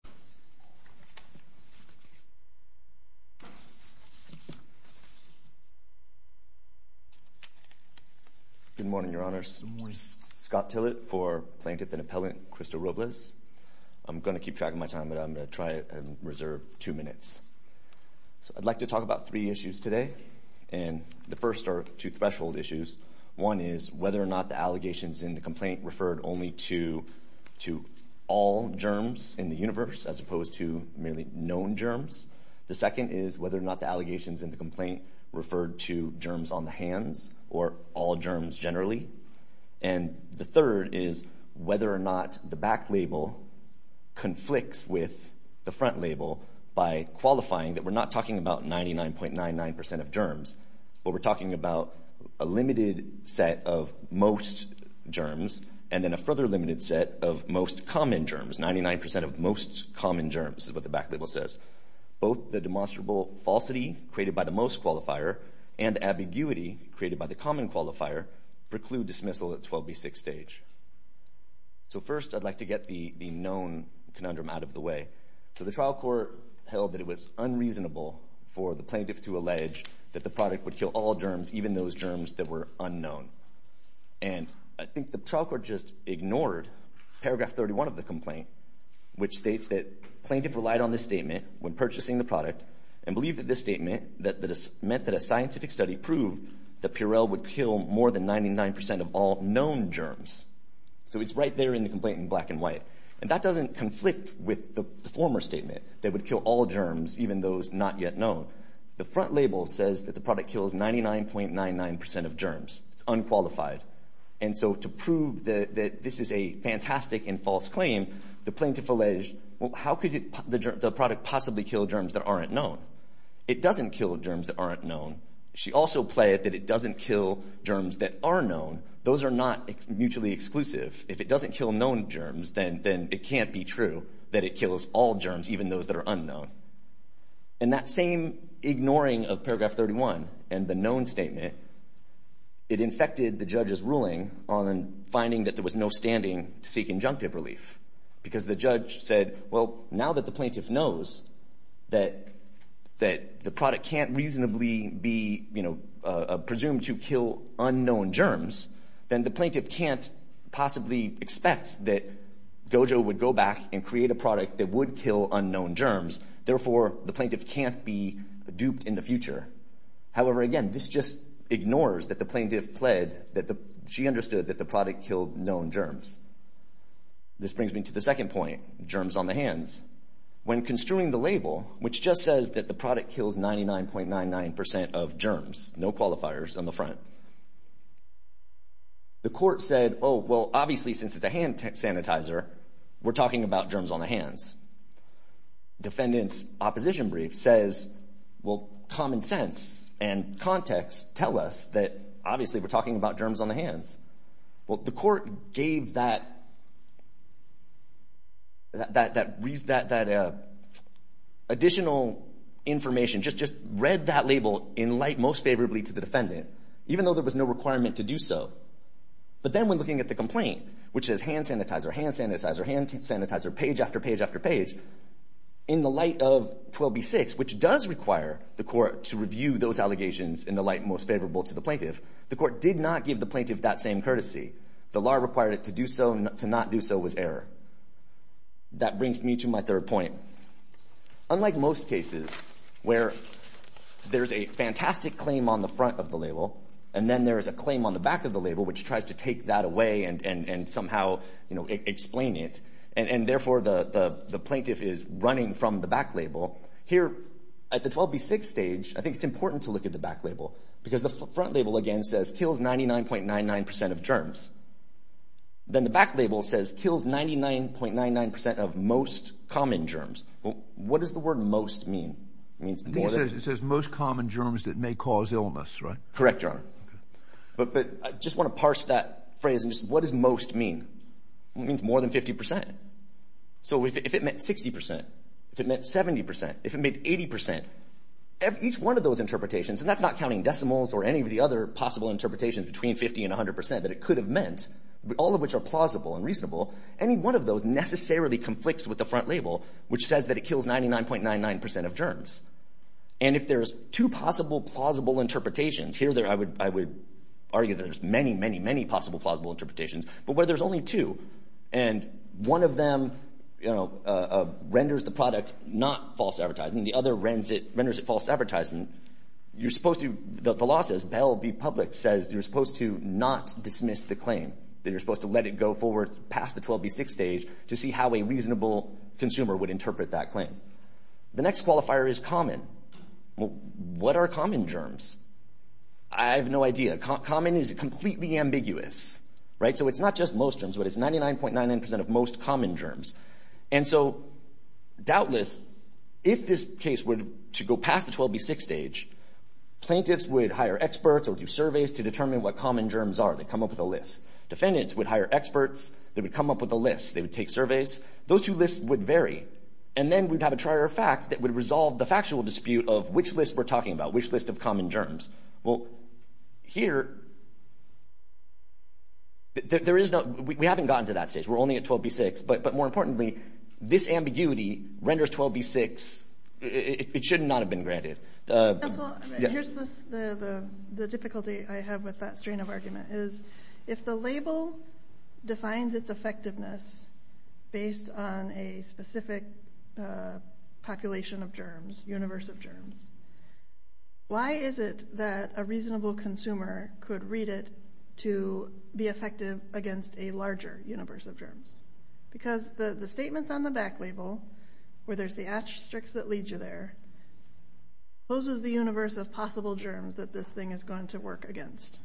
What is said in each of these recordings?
Scott Tillett, Plaintiff & Appellant Good morning, Your Honors. Scott Tillett for Plaintiff & Appellant Krista Robles. I'm going to keep track of my time, but I'm going to try and reserve two minutes. I'd like to talk about three issues today. The first are two threshold issues. One is whether or not the allegations in the complaint referred only to all germs in the universe as opposed to merely known germs. The second is whether or not the allegations in the complaint referred to germs on the hands or all germs generally. And the third is whether or not the back label conflicts with the front label by qualifying that we're not talking about 99.99 percent of germs, but we're talking about a limited set of most germs and then a further limited set of most common germs, 99 percent of most common germs, is what the back label says. Both the demonstrable falsity created by the most qualifier and ambiguity created by the common qualifier preclude dismissal at 12B6 stage. So first I'd like to get the known conundrum out of the way. So the trial court held that it was unreasonable for the plaintiff to allege that the product would kill all germs, even those germs that were unknown. And I think the trial court just ignored paragraph 31 of the complaint, which states that plaintiff relied on this statement when purchasing the product and believed that this statement meant that a scientific study proved that Purell would kill more than 99 percent of all known germs. So it's right there in the complaint in black and white. And that doesn't conflict with the former statement that it would kill all germs, even those not yet known. The front label says that the product kills 99.99 percent of germs. It's unqualified. And so to prove that this is a fantastic and false claim, the plaintiff alleged, well, how could the product possibly kill germs that aren't known? It doesn't kill germs that aren't known. She also played that it doesn't kill germs that are known. Those are not mutually exclusive. If it doesn't kill known germs, then it can't be true that it kills all germs, even those that are unknown. And that same ignoring of paragraph 31 and the known statement, it infected the judge's ruling on finding that there was no standing to seek injunctive relief because the judge said, well, now that the plaintiff knows that the product can't reasonably be presumed to kill unknown germs, then the plaintiff can't possibly expect that Gojo would go back and therefore the plaintiff can't be duped in the future. However, again, this just ignores that the plaintiff pled that she understood that the product killed known germs. This brings me to the second point, germs on the hands. When construing the label, which just says that the product kills 99.99 percent of germs, no qualifiers on the front, the court said, oh, well, obviously since it's a hand sanitizer, we're talking about germs on the hands. The defendant's opposition brief says, well, common sense and context tell us that obviously we're talking about germs on the hands. Well, the court gave that additional information, just read that label in light most favorably to the defendant, even though there was no requirement to do so. But then when looking at the complaint, which says hand sanitizer, hand sanitizer, hand hand sanitizer on the back page, in the light of 12b-6, which does require the court to review those allegations in the light most favorable to the plaintiff, the court did not give the plaintiff that same courtesy. The law required it to do so, to not do so was error. That brings me to my third point. Unlike most cases, where there's a fantastic claim on the front of the label, and then there is a claim on the back of the label, which tries to take that away and somehow explain it, and therefore the plaintiff is running from the back label, here at the 12b-6 stage, I think it's important to look at the back label, because the front label again says kills 99.99% of germs. Then the back label says kills 99.99% of most common germs. What does the word most mean? It means more than... I think it says most common germs that may cause illness, right? Correct, Your Honor. But I just want to parse that phrase, and just, what does most mean? It means more than 50%. So if it meant 60%, if it meant 70%, if it meant 80%, each one of those interpretations, and that's not counting decimals or any of the other possible interpretations between 50% and 100% that it could have meant, all of which are plausible and reasonable, any one of those necessarily conflicts with the front label, which says that it kills 99.99% of germs. And if there's two possible plausible interpretations, here I would argue there's many, many, many possible plausible interpretations, but where there's only two, and one of them renders the product not false advertising, the other renders it false advertising, you're supposed to... The law says, Bell v. Public says you're supposed to not dismiss the claim, that you're supposed to let it go forward past the 12b-6 stage to see how a reasonable consumer would interpret that claim. The next qualifier is common. What are common germs? I have no idea. Common is completely ambiguous, right? So it's not just most germs, but it's 99.99% of most common germs. And so, doubtless, if this case were to go past the 12b-6 stage, plaintiffs would hire experts or do surveys to determine what common germs are, they'd come up with a list. Defendants would hire experts, they would come up with a list, they would take surveys. Those two lists would vary. And then we'd have a trier of facts that would resolve the factual dispute of which list we're talking about, which list of common germs. Well, here, we haven't gotten to that stage, we're only at 12b-6, but more importantly, this ambiguity renders 12b-6... It should not have been granted. Here's the difficulty I have with that strain of argument, is if the label defines its effectiveness based on a specific population of germs, universe of germs, why is it that a reasonable consumer could read it to be effective against a larger universe of germs? Because the statements on the back label, where there's the asterisks that lead you there, those are the universe of possible germs that this thing is going to work against.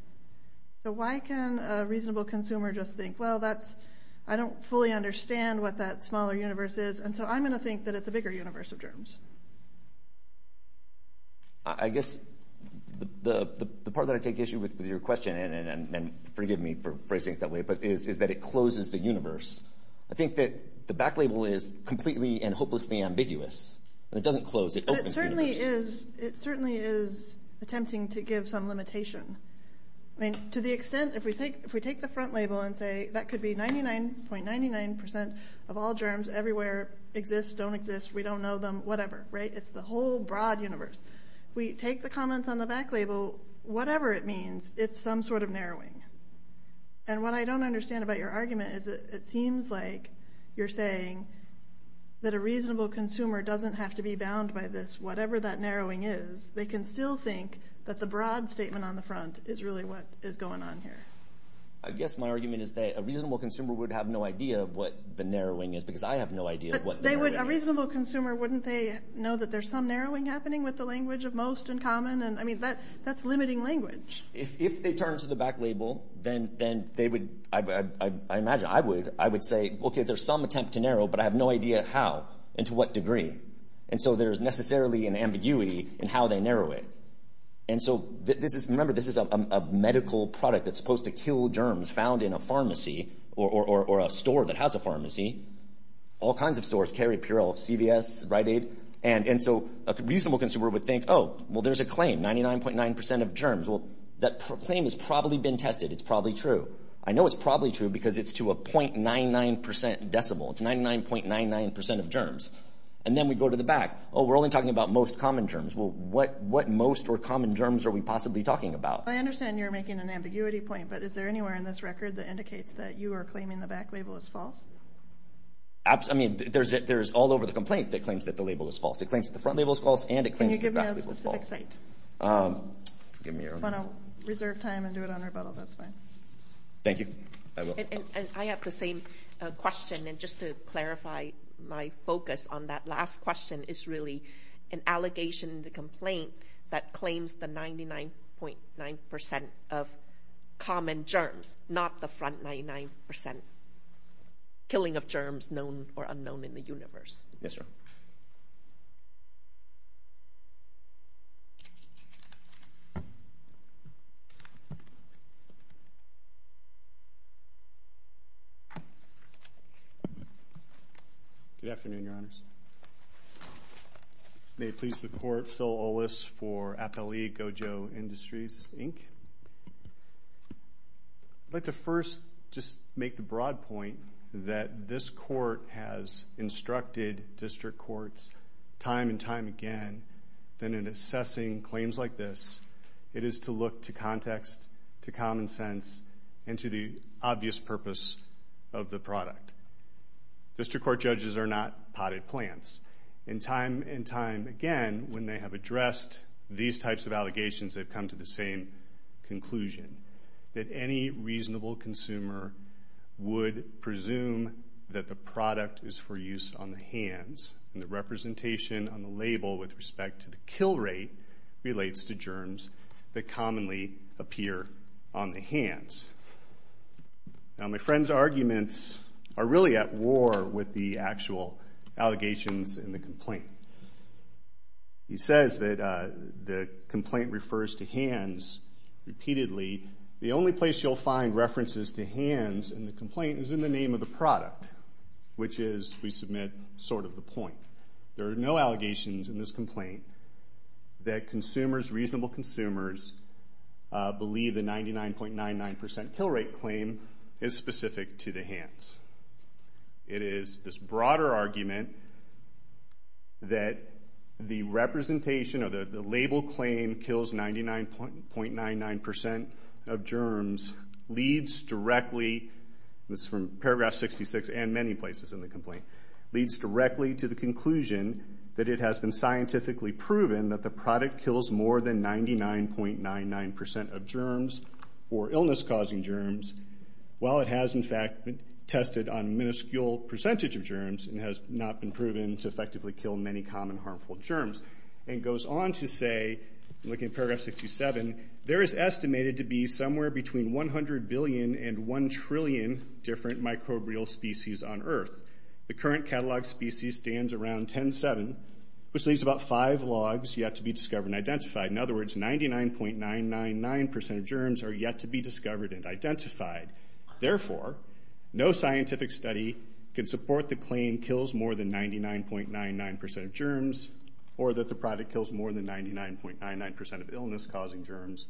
So why can a reasonable consumer just think, well, I don't fully understand what that smaller universe is, and so I'm going to think that it's a bigger universe of germs. I guess the part that I take issue with with your question, and forgive me for phrasing it that way, but is that it closes the universe. I think that the back label is completely and hopelessly ambiguous, and it doesn't close, it opens the universe. It certainly is attempting to give some limitation. To the extent, if we take the front label and say that could be 99.99% of all germs everywhere exist, don't exist, we don't know them, whatever, it's the whole broad universe. We take the comments on the back label, whatever it means, it's some sort of narrowing. And what I don't understand about your argument is that it seems like you're saying that a narrowing is, they can still think that the broad statement on the front is really what is going on here. I guess my argument is that a reasonable consumer would have no idea what the narrowing is, because I have no idea what the narrowing is. A reasonable consumer, wouldn't they know that there's some narrowing happening with the language of most in common, and I mean, that's limiting language. If they turn to the back label, then they would, I imagine, I would, I would say, okay, there's some attempt to narrow, but I have no idea how, and to what degree. And so there's necessarily an ambiguity in how they narrow it. And so this is, remember, this is a medical product that's supposed to kill germs found in a pharmacy or a store that has a pharmacy. All kinds of stores carry Purell, CVS, Rite Aid. And so a reasonable consumer would think, oh, well, there's a claim, 99.9% of germs. Well, that claim has probably been tested, it's probably true. I know it's probably true because it's to a 0.99% decibel, it's 99.99% of germs. And then we go to the back. Oh, we're only talking about most common germs. Well, what, what most or common germs are we possibly talking about? I understand you're making an ambiguity point, but is there anywhere in this record that indicates that you are claiming the back label is false? Absolutely, I mean, there's, there's all over the complaint that claims that the label is It claims that the front label is false and it claims that the back label is false. Can you give me a specific site? Give me a... If you want to reserve time and do it on rebuttal, that's fine. Thank you. I will. I have the same question. And just to clarify, my focus on that last question is really an allegation in the complaint that claims the 99.9% of common germs, not the front 99% killing of germs known or unknown in the universe. Yes, sir. Good afternoon, Your Honors. May it please the Court, Phil Olis for Appellee Gojo Industries, Inc. I'd like to first just make the broad point that this court has instructed district courts time and time again that in assessing claims like this, it is to look to context, to common of the product. District court judges are not potted plants. In time and time again, when they have addressed these types of allegations, they've come to the same conclusion, that any reasonable consumer would presume that the product is for use on the hands. And the representation on the label with respect to the kill rate relates to germs that commonly appear on the hands. Now, my friend's arguments are really at war with the actual allegations in the complaint. He says that the complaint refers to hands repeatedly. The only place you'll find references to hands in the complaint is in the name of the product, which is, we submit, sort of the point. There are no allegations in this complaint that consumers, reasonable consumers, believe the 99.99% kill rate claim is specific to the hands. It is this broader argument that the representation or the label claim kills 99.99% of germs leads directly, this is from paragraph 66 and many places in the complaint, leads directly to the conclusion that it has been scientifically proven that the product kills more than 99.99% of germs or illness-causing germs, while it has, in fact, been tested on miniscule percentage of germs and has not been proven to effectively kill many common harmful germs, and goes on to say, looking at paragraph 67, there is estimated to be somewhere between 100 billion and 1 trillion different microbial species on earth. The current catalog species stands around 10.7, which leaves about 5 logs yet to be discovered and identified. In other words, 99.999% of germs are yet to be discovered and identified. Therefore, no scientific study can support the claim kills more than 99.99% of germs or that the product kills more than 99.99% of illness-causing germs,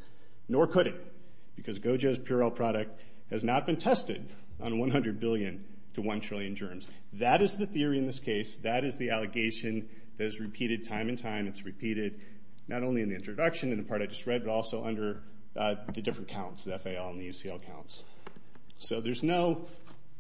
nor could it, because Go-Gez Purell product has not been tested on 100 billion to 1 trillion germs. That is the theory in this case. That is the allegation that is repeated time and time. It's repeated not only in the introduction and the part I just read, but also under the different counts, the FAL and the UCL counts. So there's no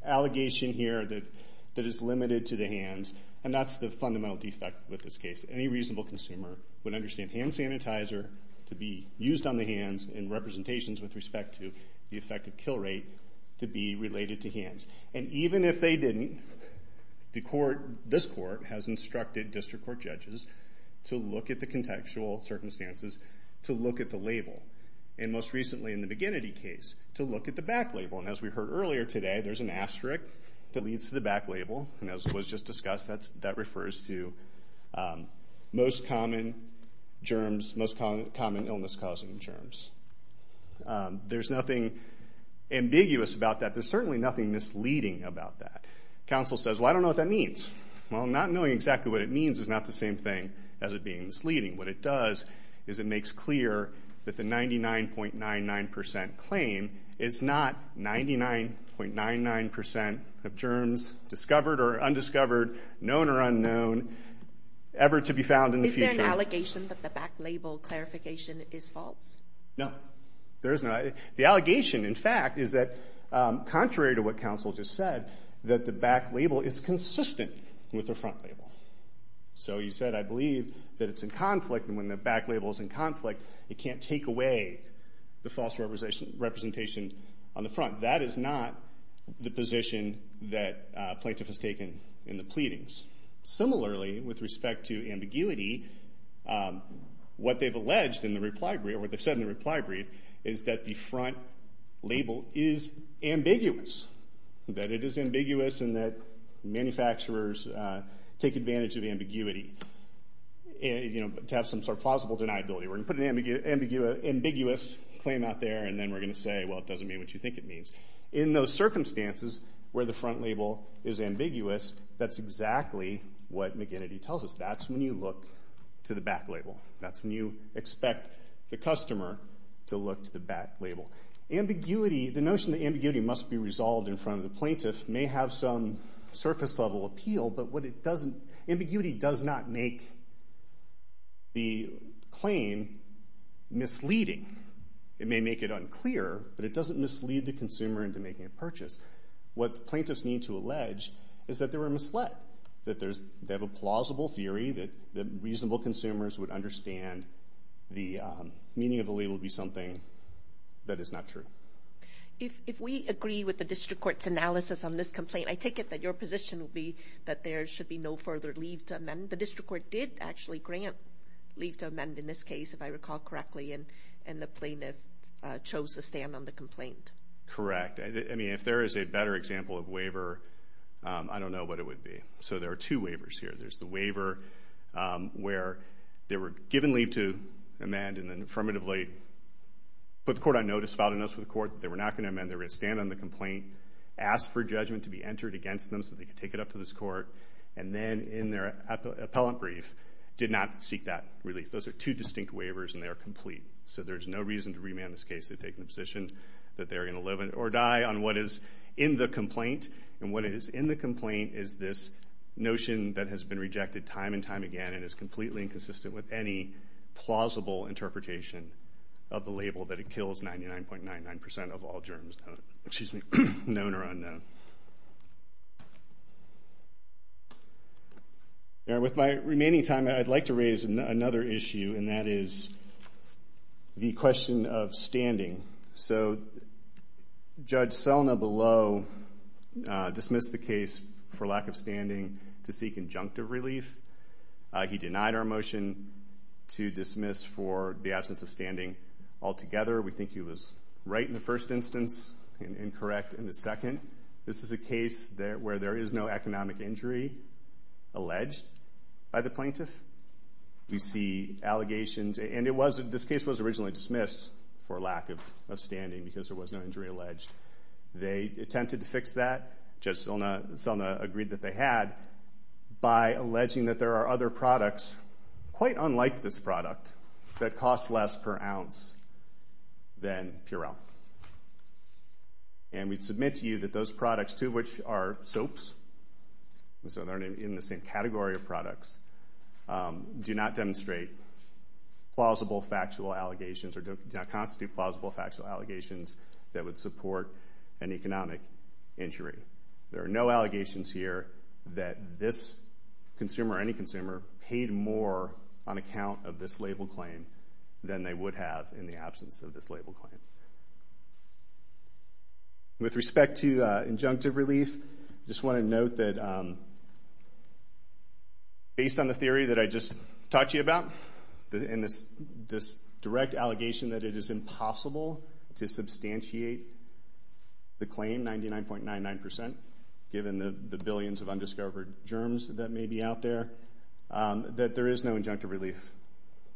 allegation here that is limited to the hands, and that's the fundamental defect with this case. Any reasonable consumer would understand hand sanitizer to be used on the hands in representations with respect to the effective kill rate to be related to hands. And even if they didn't, this court has instructed district court judges to look at the contextual circumstances, to look at the label. And most recently in the McGinnity case, to look at the back label. And as we heard earlier today, there's an asterisk that leads to the back label, and as was just discussed, that refers to most common germs, most common illness-causing germs. There's nothing ambiguous about that. There's certainly nothing misleading about that. Counsel says, well, I don't know what that means. Well, not knowing exactly what it means is not the same thing as it being misleading. What it does is it makes clear that the 99.99% claim is not 99.99% of germs discovered or undiscovered, known or unknown, ever to be found in the future. Is there an allegation that the back label clarification is false? No. There is not. The allegation, in fact, is that contrary to what counsel just said, that the back label is consistent with the front label. So you said, I believe that it's in conflict, and when the back label is in conflict, it can't take away the false representation on the front. That is not the position that plaintiff has taken in the pleadings. Similarly, with respect to ambiguity, what they've alleged in the reply brief, or what they've said, is that the front label is ambiguous, that it is ambiguous and that manufacturers take advantage of ambiguity to have some sort of plausible deniability. We're going to put an ambiguous claim out there, and then we're going to say, well, it doesn't mean what you think it means. In those circumstances where the front label is ambiguous, that's exactly what McGinnity tells us. That's when you look to the back label. That's when you expect the customer to look to the back label. Ambiguity, the notion that ambiguity must be resolved in front of the plaintiff, may have some surface level appeal, but what it doesn't, ambiguity does not make the claim misleading. It may make it unclear, but it doesn't mislead the consumer into making a purchase. What the plaintiffs need to allege is that they were misled, that they have a plausible theory that reasonable consumers would understand the meaning of the label to be something that is not true. If we agree with the district court's analysis on this complaint, I take it that your position would be that there should be no further leave to amend. The district court did actually grant leave to amend in this case, if I recall correctly, and the plaintiff chose to stand on the complaint. Correct. I mean, if there is a better example of waiver, I don't know what it would be. So there are two waivers here. There's the waiver where they were given leave to amend and then affirmatively put the court on notice, filed a notice to the court that they were not going to amend. They were going to stand on the complaint, ask for judgment to be entered against them so they could take it up to this court, and then in their appellant brief, did not seek that relief. Those are two distinct waivers, and they are complete. So there's no reason to remand this case, to take the position that they're going to live or die on what is in the complaint, and what is in the complaint is this notion that has been rejected time and time again and is completely inconsistent with any plausible interpretation of the label that it kills 99.99% of all germs known or unknown. With my remaining time, I'd like to raise another issue, and that is the question of standing. So Judge Selna Below dismissed the case for lack of standing to seek conjunctive relief. He denied our motion to dismiss for the absence of standing altogether. We think he was right in the first instance and incorrect in the second. This is a case where there is no economic injury alleged by the plaintiff. We see allegations, and this case was originally dismissed for lack of standing because there was no injury alleged. They attempted to fix that, Judge Selna agreed that they had, by alleging that there are other products, quite unlike this product, that cost less per ounce than Purell. And we submit to you that those products, too, which are soaps, so they're in the same category of products, do not demonstrate plausible factual allegations or do not constitute plausible factual allegations that would support an economic injury. There are no allegations here that this consumer or any consumer paid more on account of this label claim than they would have in the absence of this label claim. And with respect to injunctive relief, I just want to note that based on the theory that I just talked to you about, and this direct allegation that it is impossible to substantiate the claim, 99.99%, given the billions of undiscovered germs that may be out there, that there is no injunctive relief.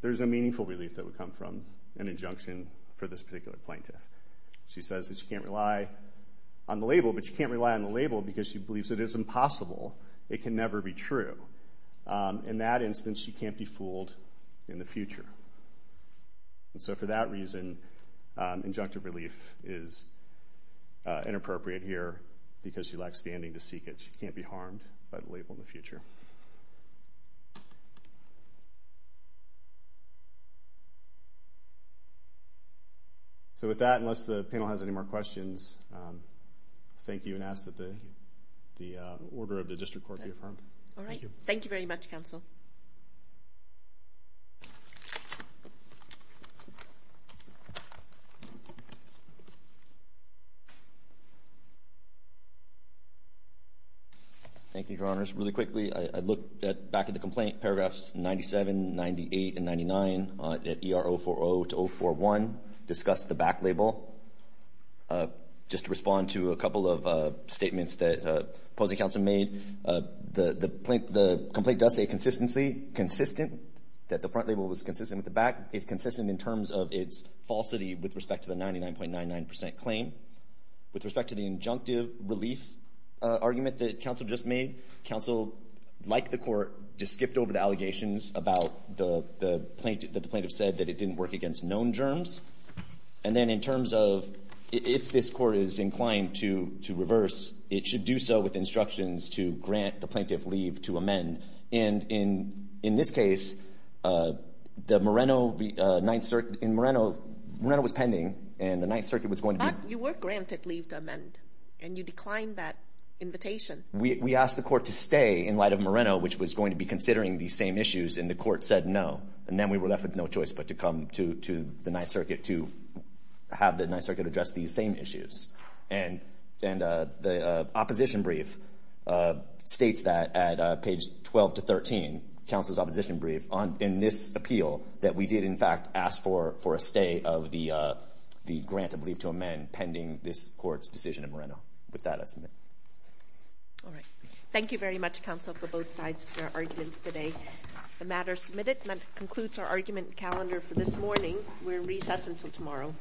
There's no meaningful relief that would come from an injunction for this particular plaintiff. She says that she can't rely on the label, but she can't rely on the label because she believes it is impossible. It can never be true. In that instance, she can't be fooled in the future. And so for that reason, injunctive relief is inappropriate here because she lacked standing to seek it. She can't be harmed by the label in the future. So with that, unless the panel has any more questions, I thank you and ask that the Order of the District Court be affirmed. Thank you. All right. Thank you very much, Counsel. Thank you, Your Honors. Just really quickly, I looked back at the complaint, paragraphs 97, 98, and 99 at ER040-041, discussed the back label. Just to respond to a couple of statements that opposing counsel made, the complaint does say consistently, consistent, that the front label was consistent with the back. It's consistent in terms of its falsity with respect to the 99.99% claim. With respect to the injunctive relief argument that counsel just made, counsel, like the court, just skipped over the allegations about the plaintiff that the plaintiff said that it didn't work against known germs. And then in terms of if this court is inclined to reverse, it should do so with instructions to grant the plaintiff leave to amend. And in this case, the Moreno Ninth Circuit — in Moreno, Moreno was pending, and the Ninth Circuit was going to be — You were granted leave to amend, and you declined that invitation. We asked the court to stay in light of Moreno, which was going to be considering these same issues, and the court said no. And then we were left with no choice but to come to the Ninth Circuit to have the Ninth Circuit address these same issues. And the opposition brief states that at page 12-13, counsel's opposition brief, in this court's decision in Moreno. With that, I submit. All right. Thank you very much, counsel, for both sides for your arguments today. The matter is submitted, and that concludes our argument calendar for this morning. We're in recess until tomorrow. All rise.